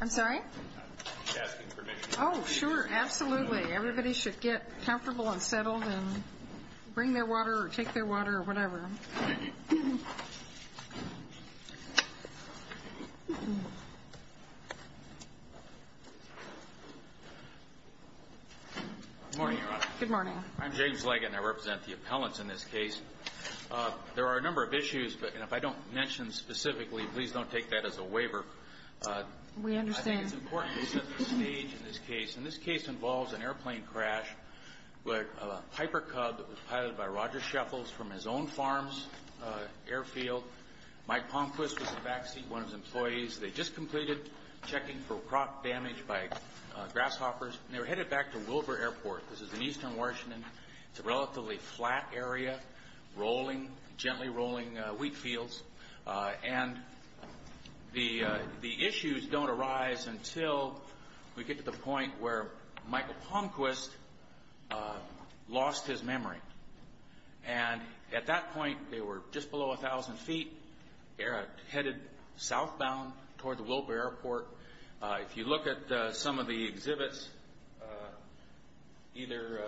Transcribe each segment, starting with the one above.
I'm sorry? I'm asking permission. Oh, sure. Absolutely. Everybody should get comfortable and settled and bring their water or take their water or whatever. Thank you. Good morning, Your Honor. Good morning. I'm James Leggett, and I represent the appellants in this case. There are a number of issues, but if I don't mention specifically, please don't take that as a waiver. We understand. I think it's important to set the stage in this case. And this case involves an airplane crash where a Piper Cub was piloted by Roger Shuffles from his own farm's airfield. Mike Palmquist was in the back seat, one of his employees. They'd just completed checking for crop damage by grasshoppers, and they were headed back to Wilbur Airport. This is in eastern Washington. It's a relatively flat area, gently rolling wheat fields. And the issues don't arise until we get to the point where Michael Palmquist lost his memory. And at that point, they were just below 1,000 feet, headed southbound toward the Wilbur Airport. If you look at some of the exhibits, either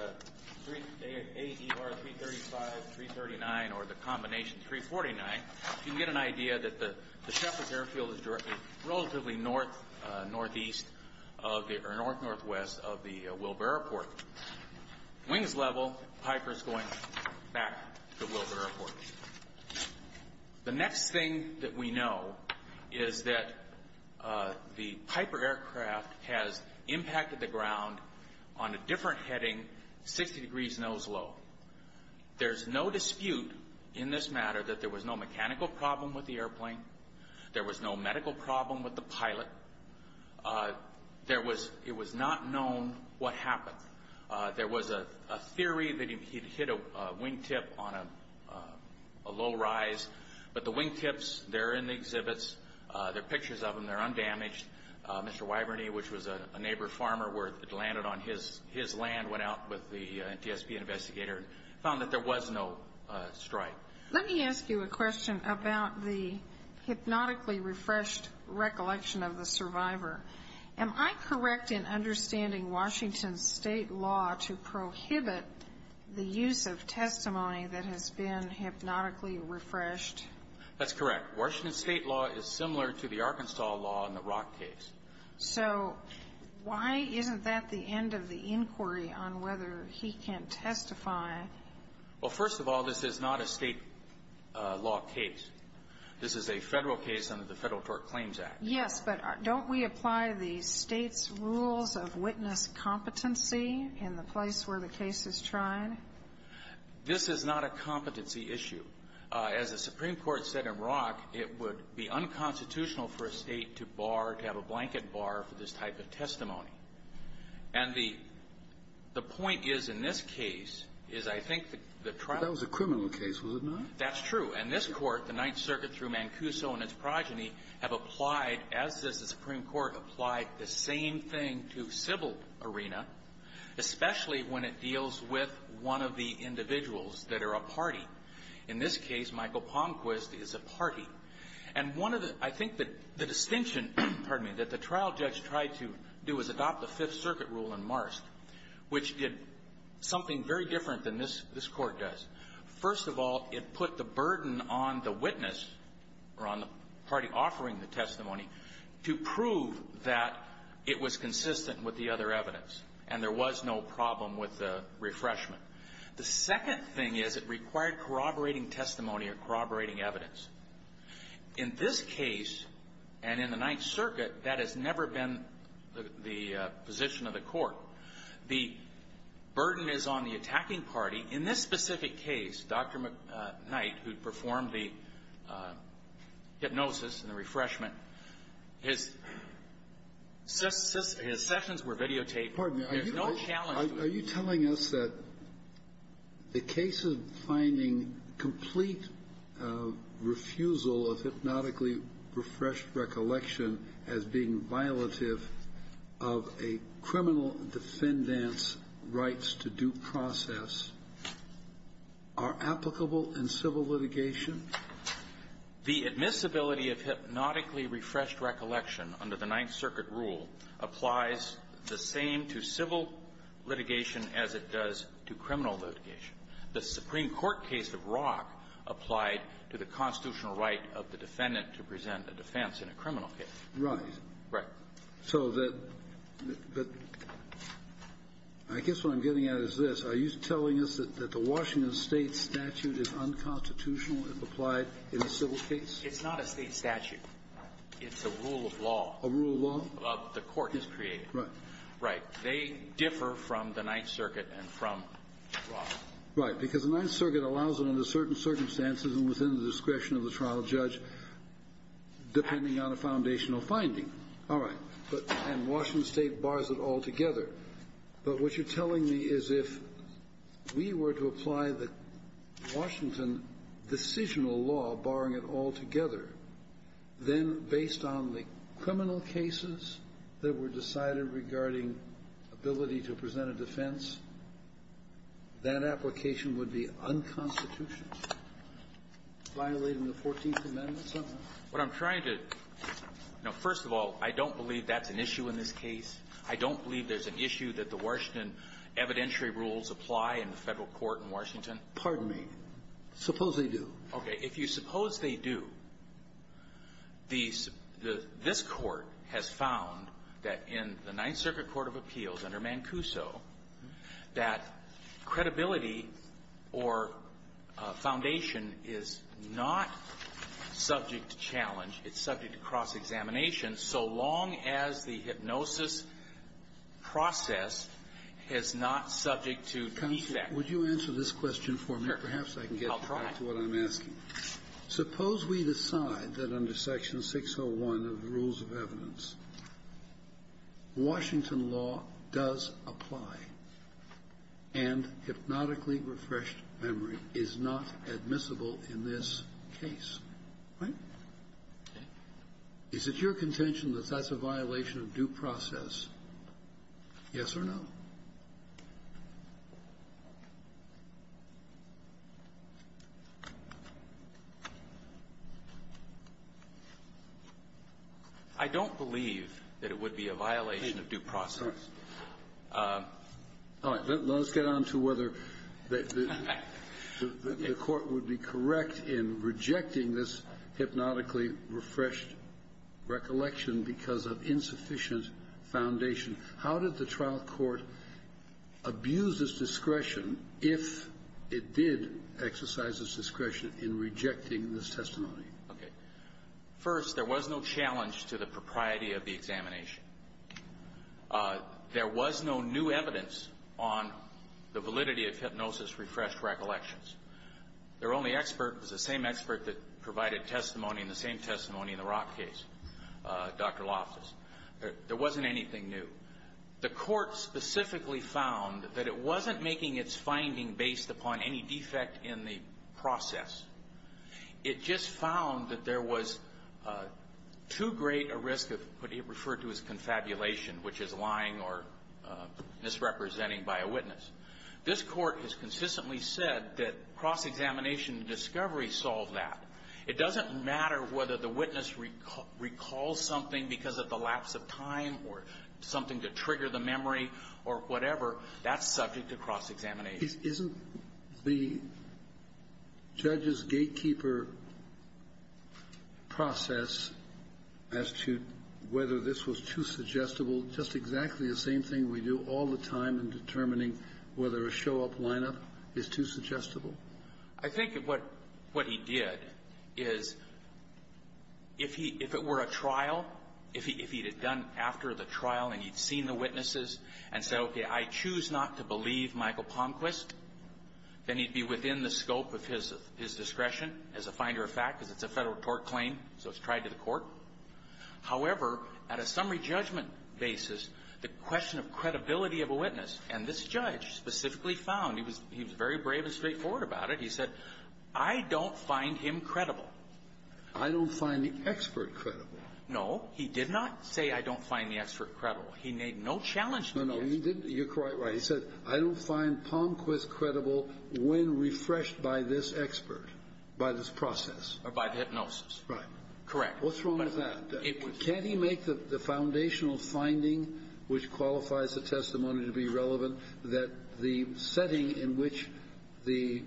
AER 335, 339, or the combination 349, you can get an idea that the Shuffles' airfield is relatively north-northwest of the Wilbur Airport. Wings level, Piper's going back to Wilbur Airport. The next thing that we know is that the Piper aircraft has impacted the ground on a different heading, 60 degrees nose low. There's no dispute in this matter that there was no mechanical problem with the airplane. There was no medical problem with the pilot. It was not known what happened. There was a theory that he'd hit a wingtip on a low rise. But the wingtips, they're in the exhibits. There are pictures of them. They're undamaged. Mr. Wiberney, which was a neighbor farmer where it landed on his land, went out with the NTSB investigator and found that there was no strike. Let me ask you a question about the hypnotically refreshed recollection of the survivor. Am I correct in understanding Washington's state law to prohibit the use of testimony that has been hypnotically refreshed? That's correct. Washington's state law is similar to the Arkansas law in the Rock case. So why isn't that the end of the inquiry on whether he can testify? Well, first of all, this is not a state law case. Yes, but don't we apply the State's rules of witness competency in the place where the case is tried? This is not a competency issue. As the Supreme Court said in Rock, it would be unconstitutional for a State to bar, to have a blanket bar for this type of testimony. And the point is, in this case, is I think the trial was a criminal case, was it not? That's true. And this Court, the Ninth Circuit through Mancuso and its progeny, have applied, as does the Supreme Court, applied the same thing to civil arena, especially when it deals with one of the individuals that are a party. In this case, Michael Palmquist is a party. And one of the – I think that the distinction, pardon me, that the trial judge tried to do is adopt the Fifth Circuit rule in Marst, which did something very different than this Court does. First of all, it put the burden on the witness or on the party offering the testimony to prove that it was consistent with the other evidence and there was no problem with the refreshment. The second thing is it required corroborating testimony or corroborating evidence. In this case and in the Ninth Circuit, that has never been the position of the Court. The burden is on the attacking party. In this specific case, Dr. Knight, who performed the hypnosis and the refreshment, his sessions were videotaped. There's no challenge to it. Are you telling us that the case of finding complete refusal of hypnotically refreshed recollection as being violative of a criminal defendant's rights to due process are applicable in civil litigation? The admissibility of hypnotically refreshed recollection under the Ninth Circuit rule applies the same to civil litigation as it does to criminal litigation. The Supreme Court case of Rock applied to the constitutional right of the defendant to present a defense in a criminal case. Right. So that the – I guess what I'm getting at is this. Are you telling us that the Washington State statute is unconstitutional if applied in a civil case? It's not a State statute. It's a rule of law. A rule of law? The Court has created it. Right. Right. They differ from the Ninth Circuit and from Rock. Right, because the Ninth Circuit allows it under certain circumstances and within the discretion of the trial judge, depending on a foundational finding. All right. But – and Washington State bars it altogether. But what you're telling me is if we were to apply the Washington decisional law barring it altogether, then based on the criminal cases that were decided regarding ability to present a defense, that application would be unconstitutional, violating the Fourteenth Amendment somehow? What I'm trying to – now, first of all, I don't believe that's an issue in this case. I don't believe there's an issue that the Washington evidentiary rules apply in the Federal court in Washington. Pardon me. Suppose they do. Okay. If you suppose they do, the – this Court has found that in the Ninth Circuit court of appeals under Mancuso, that credibility or foundation is not subject to challenge. It's subject to cross-examination so long as the hypnosis process is not subject to defect. Counsel, would you answer this question for me? Sure. Perhaps I can get back to what I'm asking. I'll try. Suppose we decide that under Section 601 of the rules of evidence, Washington law does apply, and hypnotically refreshed memory is not admissible in this case. Right? Okay. Is it your contention that that's a violation of due process, yes or no? I don't believe that it would be a violation of due process. All right. Let's get on to whether the Court would be correct in rejecting this hypnotically refreshed recollection because of insufficient foundation. How did the trial court abuse its discretion if it did exercise its discretion in rejecting this testimony? Okay. First, there was no challenge to the propriety of the examination. There was no new evidence on the validity of hypnosis refreshed recollections. Their only expert was the same expert that provided testimony and the same testimony in the Rock case, Dr. Loftus. There wasn't anything new. The Court specifically found that it wasn't making its finding based upon any defect in the process. It just found that there was too great a risk of what he referred to as confabulation, which is lying or misrepresenting by a witness. This Court has consistently said that cross-examination discovery solved that. It doesn't matter whether the witness recalls something because of the lapse of time or something to trigger the memory or whatever. That's subject to cross-examination. Isn't the judge's gatekeeper process as to whether this was too suggestible just exactly the same thing we do all the time in determining whether a show-up lineup is too suggestible? I think what he did is, if it were a trial, if he had done after the trial and he'd seen the witnesses and said, okay, I choose not to believe Michael Palmquist, then he'd be within the scope of his discretion as a finder of fact because it's a Federal tort claim, so it's tried to the Court. However, at a summary judgment basis, the question of credibility of a witness and this judge specifically found, he was very brave and straightforward about it, he said, I don't find him credible. I don't find the expert credible. No. He did not say I don't find the expert credible. He made no challenge to the expert. No, no. You're quite right. He said, I don't find Palmquist credible when refreshed by this expert, by this process. Or by the hypnosis. Right. Correct. What's wrong with that? Can't he make the foundational finding, which qualifies the testimony to be relevant, that the setting in which the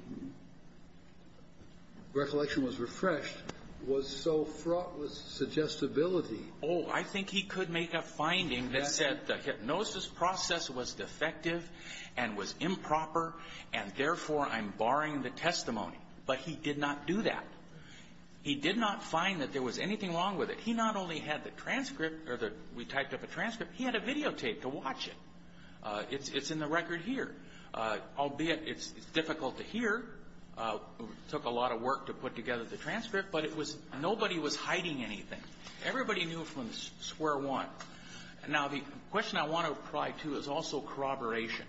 recollection was refreshed was so fraught with suggestibility? Oh, I think he could make a finding that said the hypnosis process was defective and was improper, and therefore I'm barring the testimony. But he did not do that. He did not find that there was anything wrong with it. He not only had the transcript, or we typed up a transcript, he had a videotape to watch it. It's in the record here. Albeit, it's difficult to hear. It took a lot of work to put together the transcript. But it was nobody was hiding anything. Everybody knew from square one. Now, the question I want to pry to is also corroboration.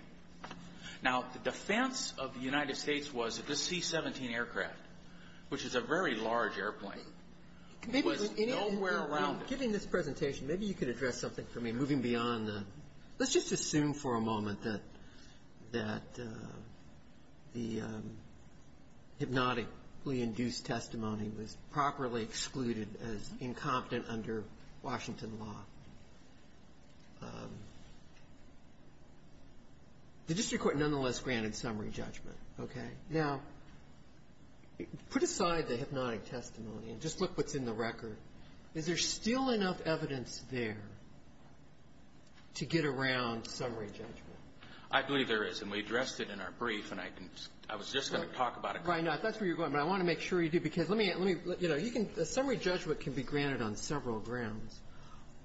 Now, the defense of the United States was that this C-17 aircraft, which is a very large airplane, was nowhere around it. In this presentation, maybe you could address something for me, moving beyond the – let's just assume for a moment that the hypnotically induced testimony was properly excluded as incompetent under Washington law. The district court nonetheless granted summary judgment, okay? Now, put aside the hypnotic testimony and just look what's in the record. Is there still enough evidence there to get around summary judgment? I believe there is, and we addressed it in our brief, and I can – I was just going to talk about it. Right. Now, if that's where you're going, but I want to make sure you do, because let me – let me – you know, you can – a summary judgment can be granted on several grounds.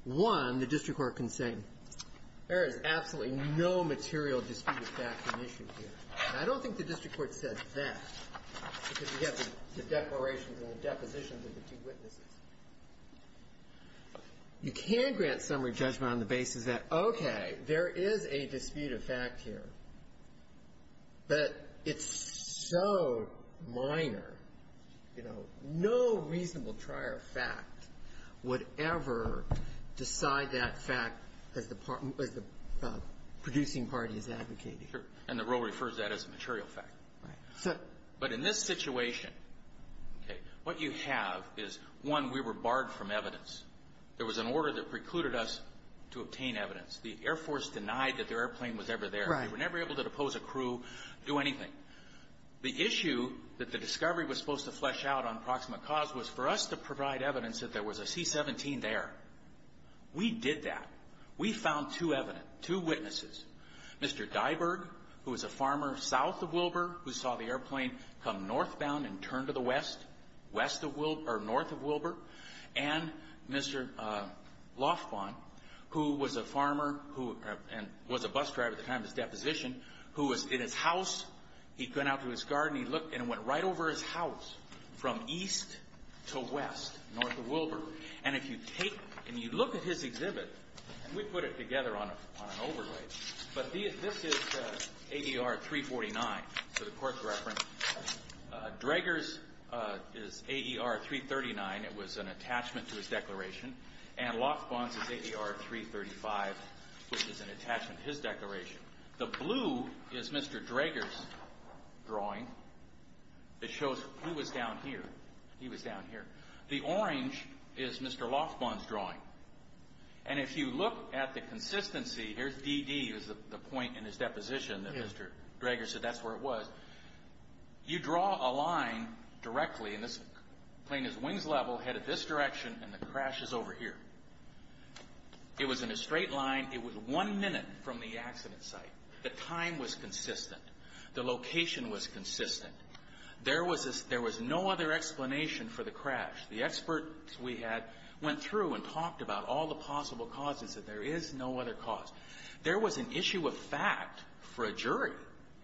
One, the district court can say there is absolutely no material disputed fact in issue here. And I don't think the district court said that because you have the declarations and the depositions of the two witnesses. You can grant summary judgment on the basis that, okay, there is a disputed fact here, but it's so minor, you know, no reasonable trier of fact would ever decide that fact as the producing party is advocating. Sure. And the rule refers to that as a material fact. Right. But in this situation, okay, what you have is, one, we were barred from evidence. There was an order that precluded us to obtain evidence. The Air Force denied that their airplane was ever there. Right. They were never able to depose a crew, do anything. The issue that the discovery was supposed to flesh out on proximate cause was for us to provide evidence that there was a C-17 there. We did that. We found two evidence, two witnesses. Mr. Diberg, who was a farmer south of Wilbur, who saw the airplane come northbound and turn to the west, west of Wilbur, or north of Wilbur, and Mr. Lofquan, who was a farmer and was a bus driver at the time of his deposition, who was in his house. He'd gone out to his garden. He looked and went right over his house from east to west, north of Wilbur. And if you take and you look at his exhibit, and we put it together on an overlay, but this is AER-349 for the court's reference. Draeger's is AER-339. It was an attachment to his declaration. And Lofquan's is AER-335, which is an attachment to his declaration. The blue is Mr. Draeger's drawing. It shows who was down here. He was down here. The orange is Mr. Lofquan's drawing. And if you look at the consistency, here's DD is the point in his deposition that Mr. Draeger said that's where it was. You draw a line directly, and this plane is wings level, headed this direction, and the crash is over here. It was in a straight line. It was one minute from the accident site. The time was consistent. The location was consistent. There was no other explanation for the crash. The experts we had went through and talked about all the possible causes that there is no other cause. There was an issue of fact for a jury.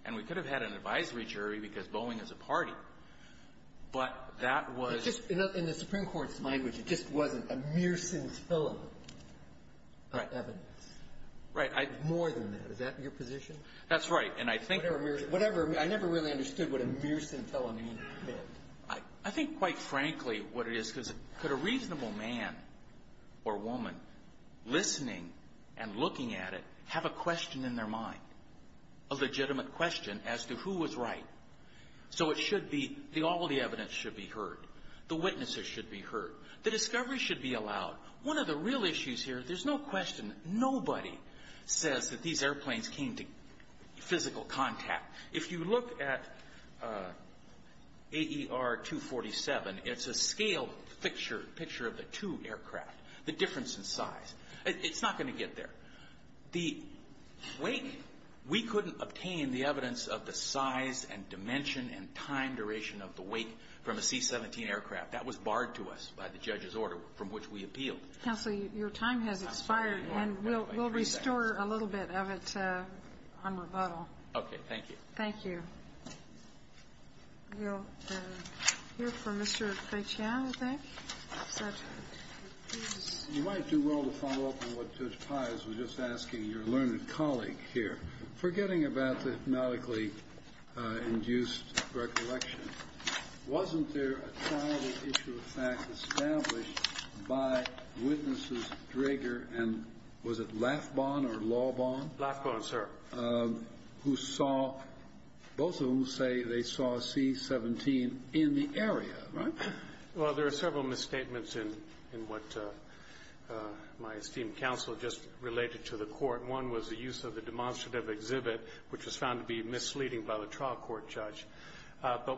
And we could have had an advisory jury because Boeing is a party. But that was — But just in the Supreme Court's language, it just wasn't a Mearson's filament of evidence. Right. More than that. Is that your position? That's right. And I think — Whatever. I never really understood what a Mearson filament meant. I think, quite frankly, what it is, because could a reasonable man or woman, listening and looking at it, have a question in their mind, a legitimate question as to who was right? So it should be — all the evidence should be heard. The witnesses should be heard. The discovery should be allowed. One of the real issues here, there's no question, nobody says that these airplanes came to physical contact. If you look at AER-247, it's a scaled picture of the two aircraft, the difference in size. It's not going to get there. The wake, we couldn't obtain the evidence of the size and dimension and time duration of the wake from a C-17 aircraft. That was barred to us by the judge's order, from which we appealed. Counsel, your time has expired. And we'll restore a little bit of it on rebuttal. Okay. Thank you. Thank you. We'll hear from Mr. Faitian, I think. You might do well to follow up on what Judge Pires was just asking your learned colleague here. Forgetting about the hypnotically-induced recollection, wasn't there a trial issue established by Witnesses Draeger and, was it Lafbon or Laubon? Lafbon, sir. Who saw, both of whom say they saw a C-17 in the area, right? Well, there are several misstatements in what my esteemed counsel just related to the court. One was the use of the demonstrative exhibit, which was found to be misleading But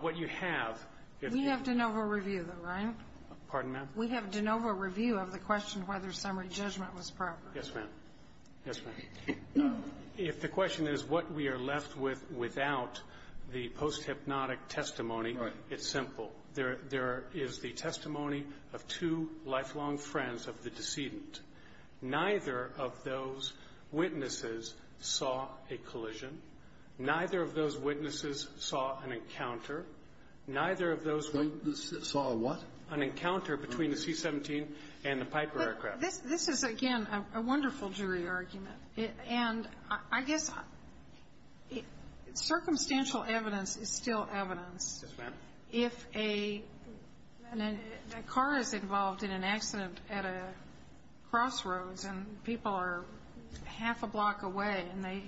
what you have, if you We have de novo review, though, right? Pardon, ma'am? We have de novo review of the question whether summary judgment was proper. Yes, ma'am. Yes, ma'am. If the question is what we are left with without the post-hypnotic testimony, it's simple. There is the testimony of two lifelong friends of the decedent. Neither of those Witnesses saw a collision. Neither of those Witnesses saw an encounter. Neither of those Witnesses saw a what? An encounter between the C-17 and the Piper aircraft. But this is, again, a wonderful jury argument. And I guess circumstantial evidence is still evidence. Yes, ma'am. If a car is involved in an accident at a crossroads and people are half a block away and they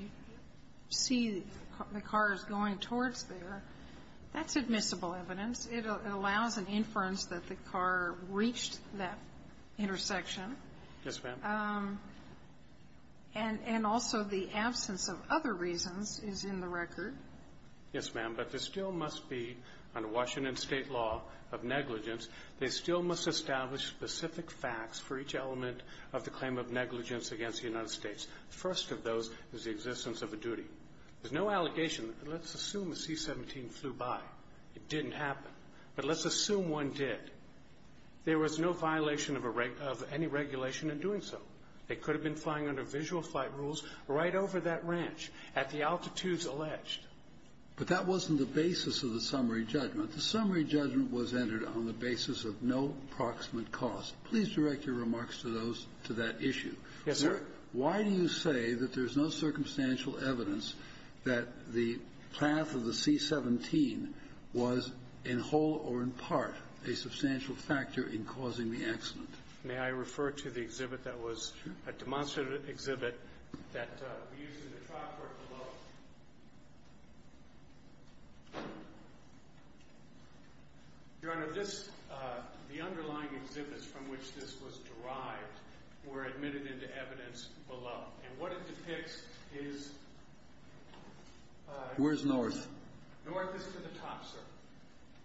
see the car is going towards there, that's admissible evidence. It allows an inference that the car reached that intersection. Yes, ma'am. And also the absence of other reasons is in the record. Yes, ma'am. But there still must be, under Washington State law of negligence, they still must establish specific facts for each element of the claim of negligence against the United States. The first of those is the existence of a duty. There's no allegation. Let's assume the C-17 flew by. It didn't happen. But let's assume one did. There was no violation of any regulation in doing so. It could have been flying under visual flight rules right over that ranch at the altitudes alleged. But that wasn't the basis of the summary judgment. The summary judgment was entered on the basis of no proximate cause. Please direct your remarks to that issue. Yes, sir. Why do you say that there's no circumstantial evidence that the path of the C-17 was in whole or in part a substantial factor in causing the accident? May I refer to the exhibit that was a demonstrated exhibit that we used in the trial court below? Your Honor, this the underlying exhibits from which this was derived were admitted into evidence below. And what it depicts is – Where's north? North is to the top, sir.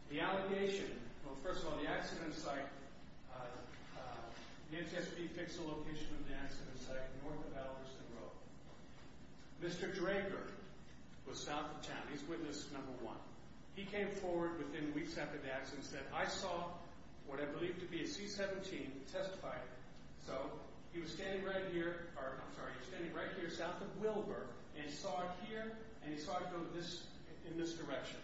The allegation – well, first of all, the accident site, the NTSB fixed the location of the accident site north of Albertson Road. Mr. Drager was south of town. He's witness number one. He came forward within weeks after the accident and said, I saw what I believe to be a C-17 testifying. So he was standing right here – or, I'm sorry, he was standing right here south of Wilbur, and he saw it here, and he saw it go this – in this direction.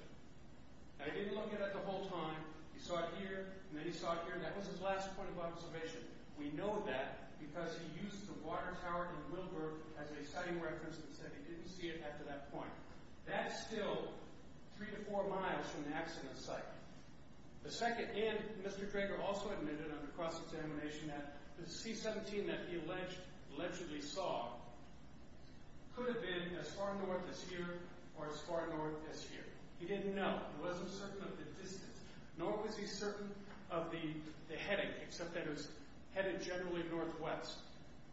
And he didn't look at it the whole time. He saw it here, and then he saw it here. And that was his last point of observation. We know that because he used the water tower in Wilbur as a sighting reference and said he didn't see it after that point. That's still three to four miles from the accident site. The second – and Mr. Drager also admitted under cross-examination that the C-17 that he alleged – allegedly saw could have been as far north as here or as far north as here. He didn't know. He wasn't certain of the distance, nor was he certain of the heading, except that it was headed generally northwest.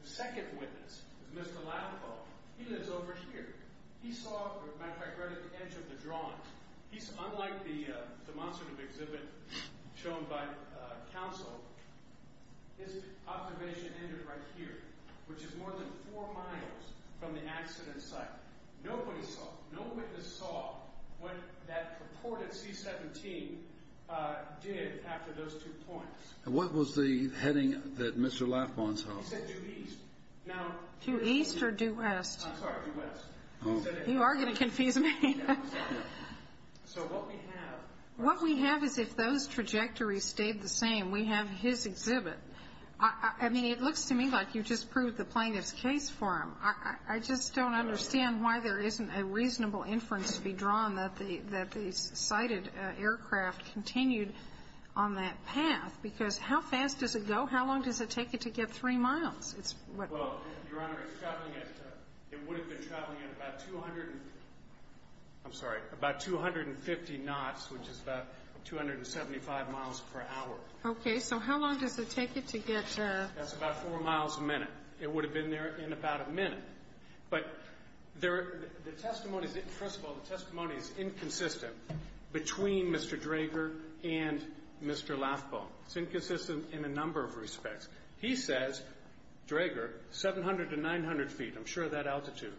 The second witness was Mr. Latipo. He lives over here. He saw – or, as a matter of fact, right at the edge of the drawings. He's – unlike the demonstrative exhibit shown by counsel, his observation ended right here, which is more than four miles from the accident site. Nobody saw – no witness saw what that purported C-17 did after those two points. And what was the heading that Mr. Latipo saw? He said due east. Now – Due east or due west? I'm sorry, due west. Oh. You are going to confuse me. So what we have – What we have is if those trajectories stayed the same, we have his exhibit. I mean, it looks to me like you just proved the plaintiff's case for him. I just don't understand why there isn't a reasonable inference to be drawn that the – that the sighted aircraft continued on that path, because how fast does it go? How long does it take it to get three miles? It's – Well, Your Honor, it's traveling at – it would have been traveling at about 200 – I'm sorry, about 250 knots, which is about 275 miles per hour. Okay. So how long does it take it to get – That's about four miles a minute. It would have been there in about a minute. But there – the testimony is – first of all, the testimony is inconsistent between Mr. Drager and Mr. Latipo. It's inconsistent in a number of respects. He says, Drager, 700 to 900 feet. I'm sure of that altitude.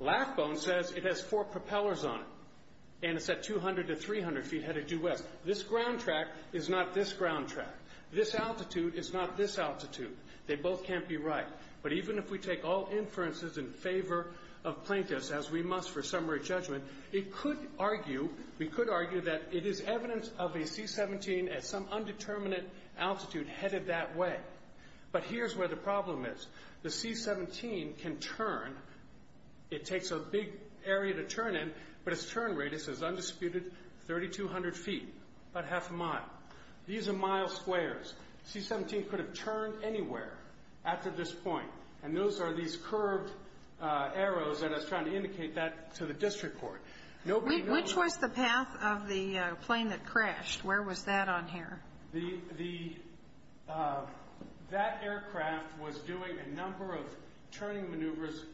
Latipo says it has four propellers on it, and it's at 200 to 300 feet headed due west. This ground track is not this ground track. This altitude is not this altitude. They both can't be right. But even if we take all inferences in favor of plaintiffs, as we must for summary judgment, it could argue – we could argue that it is evidence of a C-17 at some undetermined altitude headed that way. But here's where the problem is. The C-17 can turn – it takes a big area to turn in, but its turn radius is undisputed 3,200 feet, about half a mile. These are mile squares. The C-17 could have turned anywhere after this point, and those are these curved arrows that are trying to indicate that to the district court. Nobody knows – Which was the path of the plane that crashed? Where was that on here? The – that aircraft was doing a number of turning maneuvers,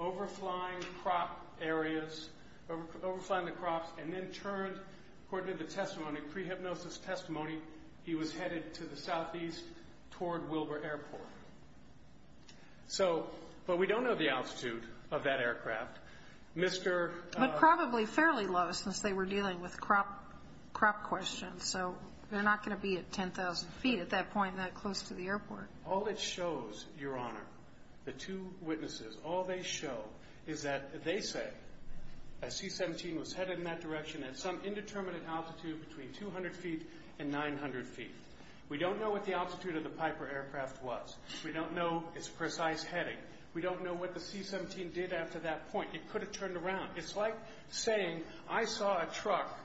overflying crop areas, overflying the crops, and then turned, according to the testimony, pre-hypnosis testimony, he was headed to the southeast toward Wilbur Airport. So – but we don't know the altitude of that aircraft. Mr. – But probably fairly low, since they were dealing with crop questions. So they're not going to be at 10,000 feet at that point, that close to the airport. All it shows, Your Honor, the two witnesses, all they show is that they say a C-17 was headed in that direction at some indeterminate altitude between 200 feet and 900 feet. We don't know what the altitude of the Piper aircraft was. We don't know its precise heading. We don't know what the C-17 did after that point. It could have turned around. It's like saying I saw a truck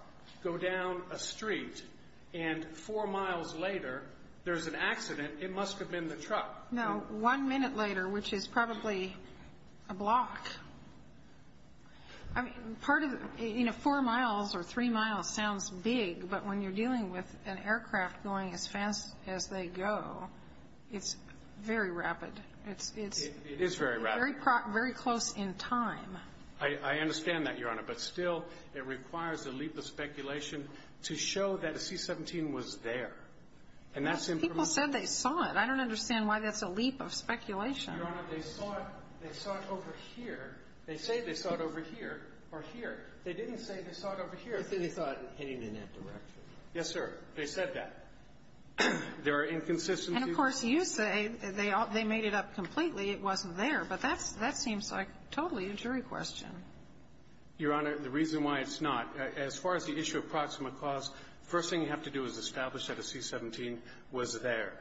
go down a street, and four miles later there's an accident. It must have been the truck. No. One minute later, which is probably a block. I mean, part of – you know, four miles or three miles sounds big, but when you're dealing with an aircraft going as fast as they go, it's very rapid. It's – It is very rapid. Very close in time. I understand that, Your Honor. But still, it requires a leap of speculation to show that a C-17 was there. And that's impromptu. People said they saw it. I don't understand why that's a leap of speculation. Your Honor, they saw it over here. They say they saw it over here or here. They didn't say they saw it over here. They said they saw it heading in that direction. Yes, sir. They said that. There are inconsistencies. And, of course, you say they made it up completely. It wasn't there. But that seems like totally a jury question. Your Honor, the reason why it's not, as far as the issue of proximate cause, the first thing you have to do is establish that a C-17 was there.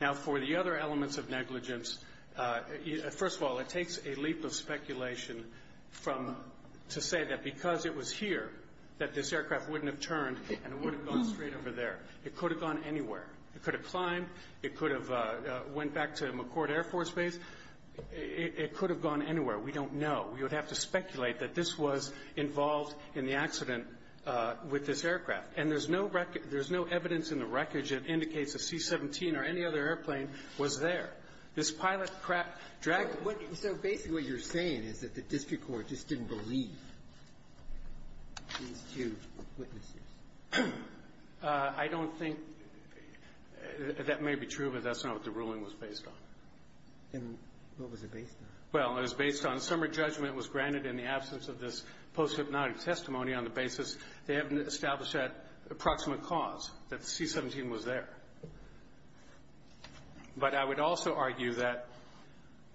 Now, for the other elements of negligence, first of all, it takes a leap of speculation from – to say that because it was here, that this aircraft wouldn't have turned and it wouldn't have gone straight over there. It could have gone anywhere. It could have climbed. It could have went back to McCourt Air Force Base. It could have gone anywhere. We don't know. We would have to speculate that this was involved in the accident with this aircraft. And there's no record – there's no evidence in the wreckage that indicates a C-17 or any other airplane was there. This pilot dragged – So basically what you're saying is that the district court just didn't believe these two witnesses. I don't think – that may be true, but that's not what the ruling was based on. And what was it based on? Well, it was based on summary judgment was granted in the absence of this post-hypnotic testimony on the basis they haven't established that approximate cause, that the C-17 was there. But I would also argue that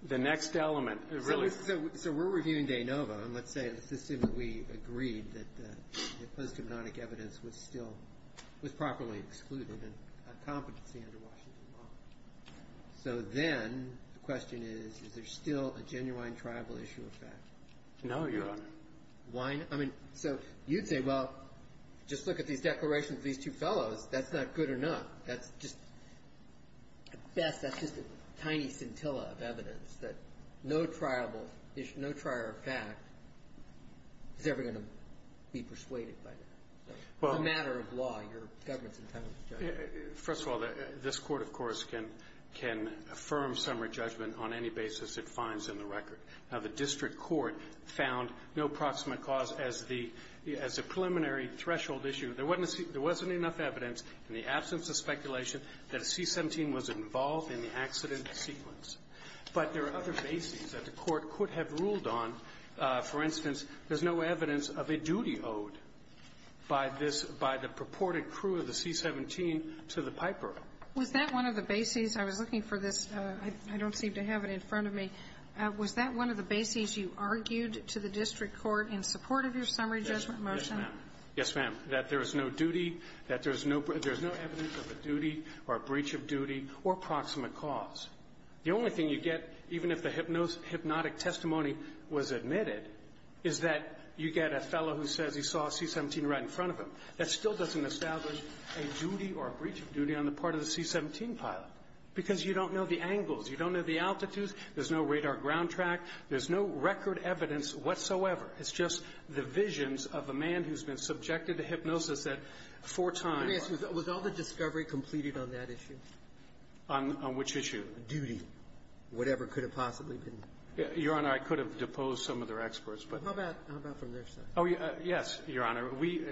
the next element really – So we're reviewing de novo, and let's say that we agreed that the post-hypnotic evidence was still – was properly excluded and had competency under Washington law. So then the question is, is there still a genuine triable issue of fact? No, Your Honor. Why not? I mean, so you'd say, well, just look at these declarations of these two fellows. That's not good enough. That's just – at best, that's just a tiny scintilla of evidence that no triable issue – no trier of fact is ever going to be persuaded by that. It's a matter of law. Your government's entitled to judge it. First of all, this Court, of course, can – can affirm summary judgment on any basis it finds in the record. Now, the district court found no approximate cause as the – as a preliminary threshold issue. There wasn't enough evidence in the absence of speculation that a C-17 was involved in the accident sequence. But there are other bases that the Court could have ruled on. For instance, there's no evidence of a duty owed by this – by the purported crew of the C-17 to the piper. Was that one of the bases – I was looking for this. I don't seem to have it in front of me. Was that one of the bases you argued to the district court in support of your summary judgment motion? Yes, ma'am. Yes, ma'am. That there is no duty, that there is no – there is no evidence of a duty or a breach of duty or approximate cause. The only thing you get, even if the hypnotic testimony was admitted, is that you get a fellow who says he saw a C-17 right in front of him. That still doesn't establish a duty or a breach of duty on the part of the C-17 pilot because you don't know the angles. You don't know the altitudes. There's no radar ground track. There's no record evidence whatsoever. It's just the visions of a man who's been subjected to hypnosis at four times. Let me ask you. Was all the discovery completed on that issue? On which issue? Duty, whatever could have possibly been. Your Honor, I could have deposed some of their experts, but – How about from their side? Oh, yes, Your Honor. We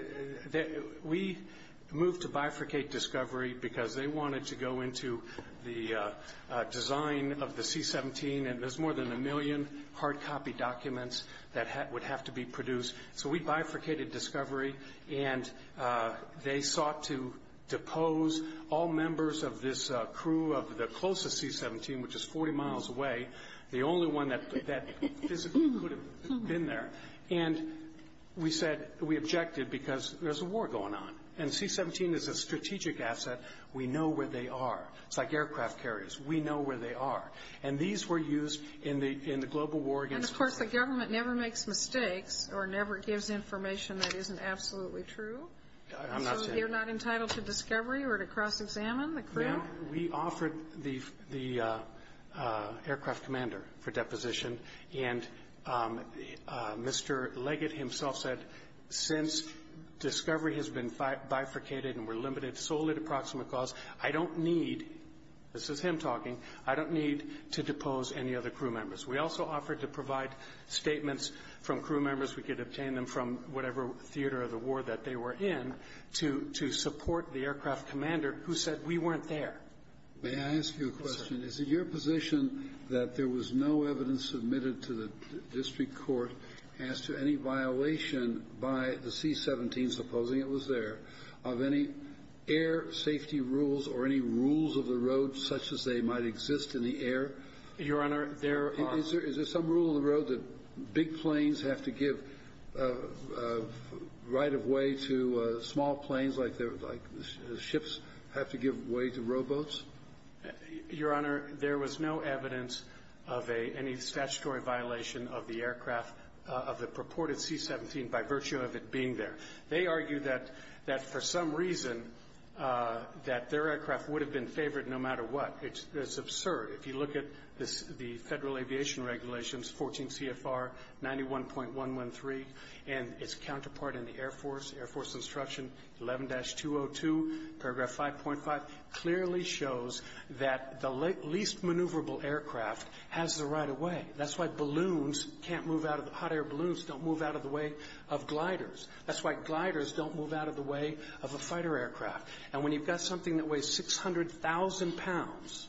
moved to bifurcate discovery because they wanted to go into the design of the C-17, and there's more than a million hard copy documents that would have to be produced. So we bifurcated discovery, and they sought to depose all members of this crew of the closest C-17, which is 40 miles away, the only one that physically could have been there. And we said – we objected because there's a war going on. And the C-17 is a strategic asset. We know where they are. It's like aircraft carriers. We know where they are. And these were used in the global war against – And, of course, the government never makes mistakes or never gives information that isn't absolutely true. I'm not saying – So you're not entitled to discovery or to cross-examine the crew? We offered the aircraft commander for deposition, and Mr. Leggett himself said, since discovery has been bifurcated and we're limited solely to proximate cause, I don't need – this is him talking – I don't need to depose any other crew members. We also offered to provide statements from crew members. We could obtain them from whatever theater of the war that they were in to support the aircraft commander who said we weren't there. May I ask you a question? Yes, sir. Is it your position that there was no evidence submitted to the district court as to any violation by the C-17, supposing it was there, of any air safety rules or any rules of the road such as they might exist in the air? Your Honor, there are – Is there some rule of the road that big planes have to give right-of-way to small planes like ships have to give way to rowboats? Your Honor, there was no evidence of any statutory violation of the aircraft, of the purported C-17, by virtue of it being there. They argue that for some reason that their aircraft would have been favored no matter what. It's absurd. If you look at the Federal Aviation Regulations, 14 CFR 91.113, and its counterpart in the Air Force, Air Force Instruction 11-202, paragraph 5.5, clearly shows that the least maneuverable aircraft has the right-of-way. That's why hot-air balloons don't move out of the way of gliders. That's why gliders don't move out of the way of a fighter aircraft. And when you've got something that weighs 600,000 pounds,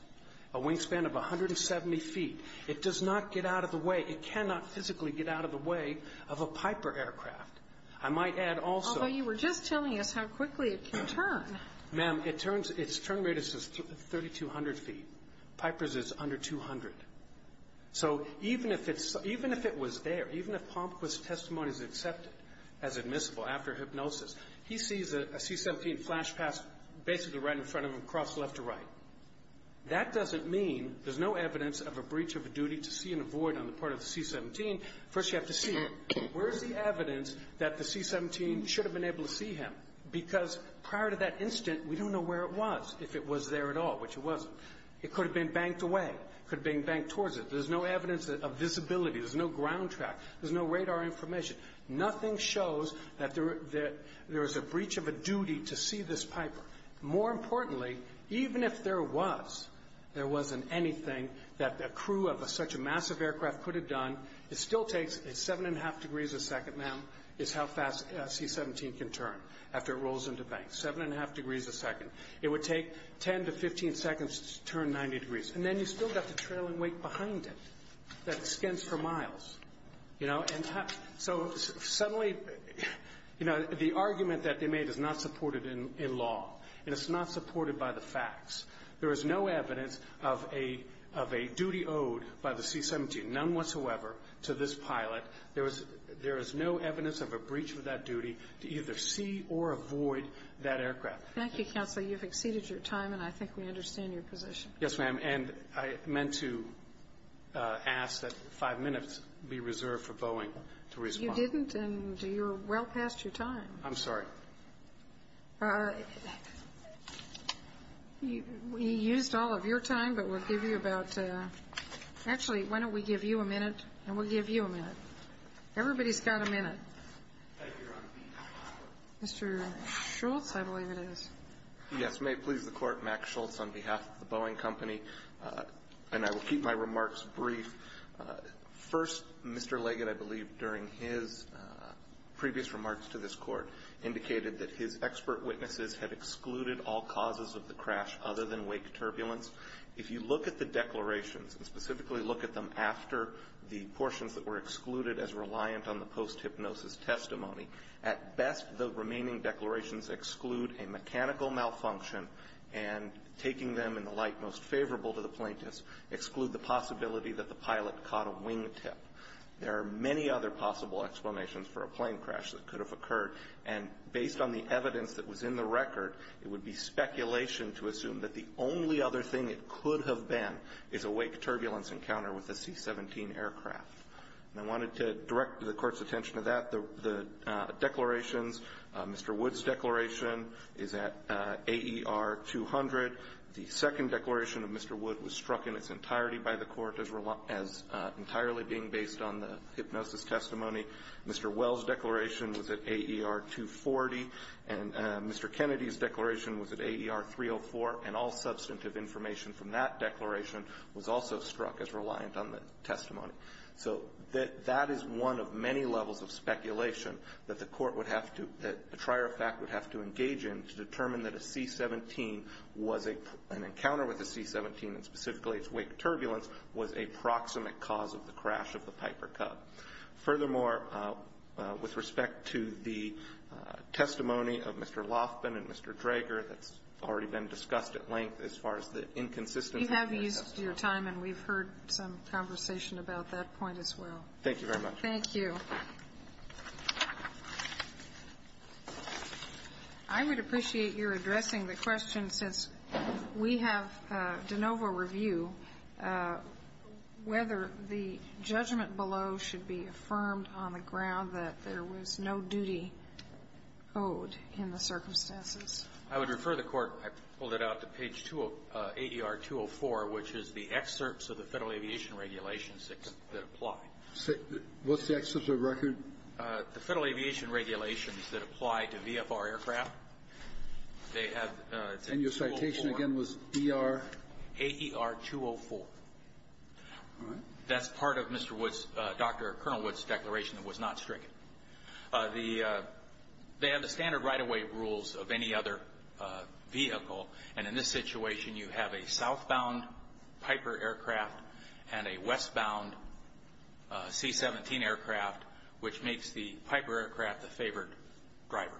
a wingspan of 170 feet, it does not get out of the way – it cannot physically get out of the way of a Piper aircraft. I might add also – Although you were just telling us how quickly it can turn. Ma'am, its turn radius is 3,200 feet. Piper's is under 200. So even if it was there, even if Palmquist's testimony is accepted as admissible after hypnosis, he sees a C-17 flash past basically right in front of him, across left to right. That doesn't mean there's no evidence of a breach of a duty to see and avoid on the part of the C-17. First you have to see it. Where is the evidence that the C-17 should have been able to see him? Because prior to that instant, we don't know where it was, if it was there at all, which it wasn't. It could have been banked away. It could have been banked towards it. There's no evidence of visibility. There's no ground track. There's no radar information. Nothing shows that there is a breach of a duty to see this Piper. More importantly, even if there was, there wasn't anything that a crew of such a massive aircraft could have done, it still takes 7.5 degrees a second, ma'am, is how fast a C-17 can turn after it rolls into bank. 7.5 degrees a second. It would take 10 to 15 seconds to turn 90 degrees. And then you've still got the trailing weight behind it that extends for miles. You know, and so suddenly, you know, the argument that they made is not supported in law, and it's not supported by the facts. There is no evidence of a duty owed by the C-17, none whatsoever, to this pilot. There is no evidence of a breach of that duty to either see or avoid that aircraft. Thank you, counsel. You've exceeded your time, and I think we understand your position. Yes, ma'am. And I meant to ask that five minutes be reserved for Boeing to respond. You didn't, and you're well past your time. I'm sorry. We used all of your time, but we'll give you about to actually, why don't we give you a minute, and we'll give you a minute. Everybody's got a minute. Thank you, Your Honor. Mr. Schultz, I believe it is. Yes, may it please the Court, Max Schultz on behalf of the Boeing Company, and I will keep my remarks brief. First, Mr. Leggett, I believe, during his previous remarks to this Court, indicated that his expert witnesses had excluded all causes of the crash other than wake turbulence. If you look at the declarations, and specifically look at them after the portions that were excluded as reliant on the post-hypnosis testimony, at best the remaining declarations exclude a mechanical malfunction, and taking them in the light most favorable to the plaintiffs exclude the possibility that the pilot caught a wing tip. There are many other possible explanations for a plane crash that could have occurred, and based on the evidence that was in the record, it would be speculation to assume that the only other thing it could have been is a wake turbulence encounter with a C-17 aircraft. And I wanted to direct the Court's attention to that. The declarations, Mr. Wood's declaration is at AER 200. The second declaration of Mr. Wood was struck in its entirety by the Court as entirely being based on the hypnosis testimony. Mr. Wells' declaration was at AER 240, and Mr. Kennedy's declaration was at AER 304, and all substantive information from that declaration was also struck as reliant on the testimony. So that is one of many levels of speculation that the Court would have to, that the trier of fact would have to engage in to determine that a C-17 was an encounter with a C-17 and specifically its wake turbulence was a proximate cause of the crash of the Piper Cub. Furthermore, with respect to the testimony of Mr. Lofman and Mr. Drager that's already been discussed at length as far as the inconsistencies We have used your time and we've heard some conversation about that point as well. Thank you very much. Thank you. I would appreciate your addressing the question since we have de novo review, whether the judgment below should be affirmed on the ground that there was no duty owed in the circumstances. I would refer the Court, I pulled it out to page AER 204, which is the excerpts of the Federal Aviation Regulations that apply. What's the excerpt of the record? The Federal Aviation Regulations that apply to VFR aircraft. They have 204. And your citation again was ER? AER 204. All right. That's part of Mr. Wood's, Dr. Colonel Wood's declaration that was not stricken. They have the standard right-of-way rules of any other vehicle. And in this situation you have a southbound Piper aircraft and a westbound C-17 aircraft, which makes the Piper aircraft the favored driver.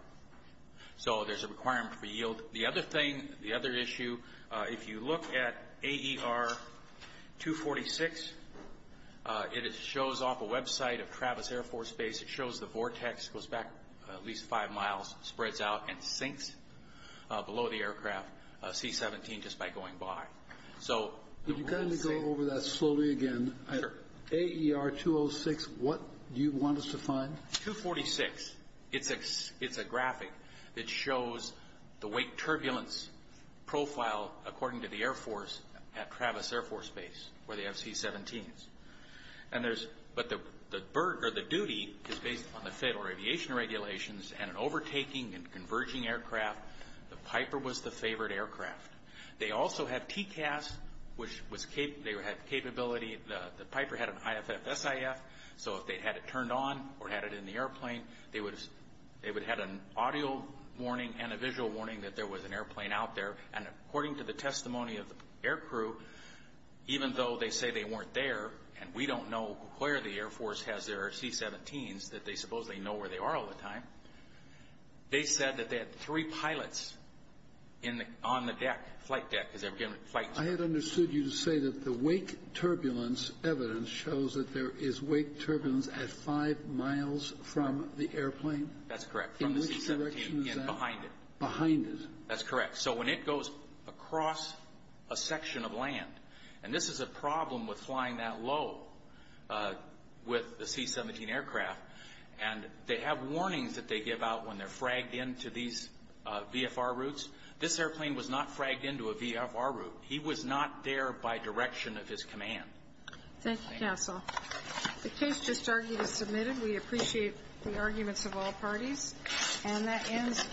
So there's a requirement for yield. The other thing, the other issue, if you look at AER 246, it shows off a website of Travis Air Force Base. It shows the vortex goes back at least five miles, spreads out, and sinks below the aircraft, a C-17, just by going by. So the rules say — Could you kindly go over that slowly again? Sure. AER 206, what do you want us to find? 246, it's a graphic that shows the wake turbulence profile, according to the Air Force, at Travis Air Force Base, where they have C-17s. But the duty is based on the Federal Aviation Regulations and an overtaking and converging aircraft. The Piper was the favored aircraft. They also had TCAS, which they had capability. The Piper had an IFF-SIF, so if they had it turned on or had it in the airplane, they would have an audio warning and a visual warning that there was an airplane out there. And according to the testimony of the aircrew, even though they say they weren't there and we don't know where the Air Force has their C-17s, that they supposedly know where they are all the time, they said that they had three pilots on the deck, flight deck. I had understood you to say that the wake turbulence evidence shows that there is wake turbulence at five miles from the airplane. That's correct. In which direction is that? Behind it. Behind it. That's correct. So when it goes across a section of land, and this is a problem with flying that low with the C-17 aircraft, and they have warnings that they give out when they're fragged into these VFR routes. This airplane was not fragged into a VFR route. He was not there by direction of his command. Thank you, counsel. The case just argued is submitted. We appreciate the arguments of all parties. And that ends.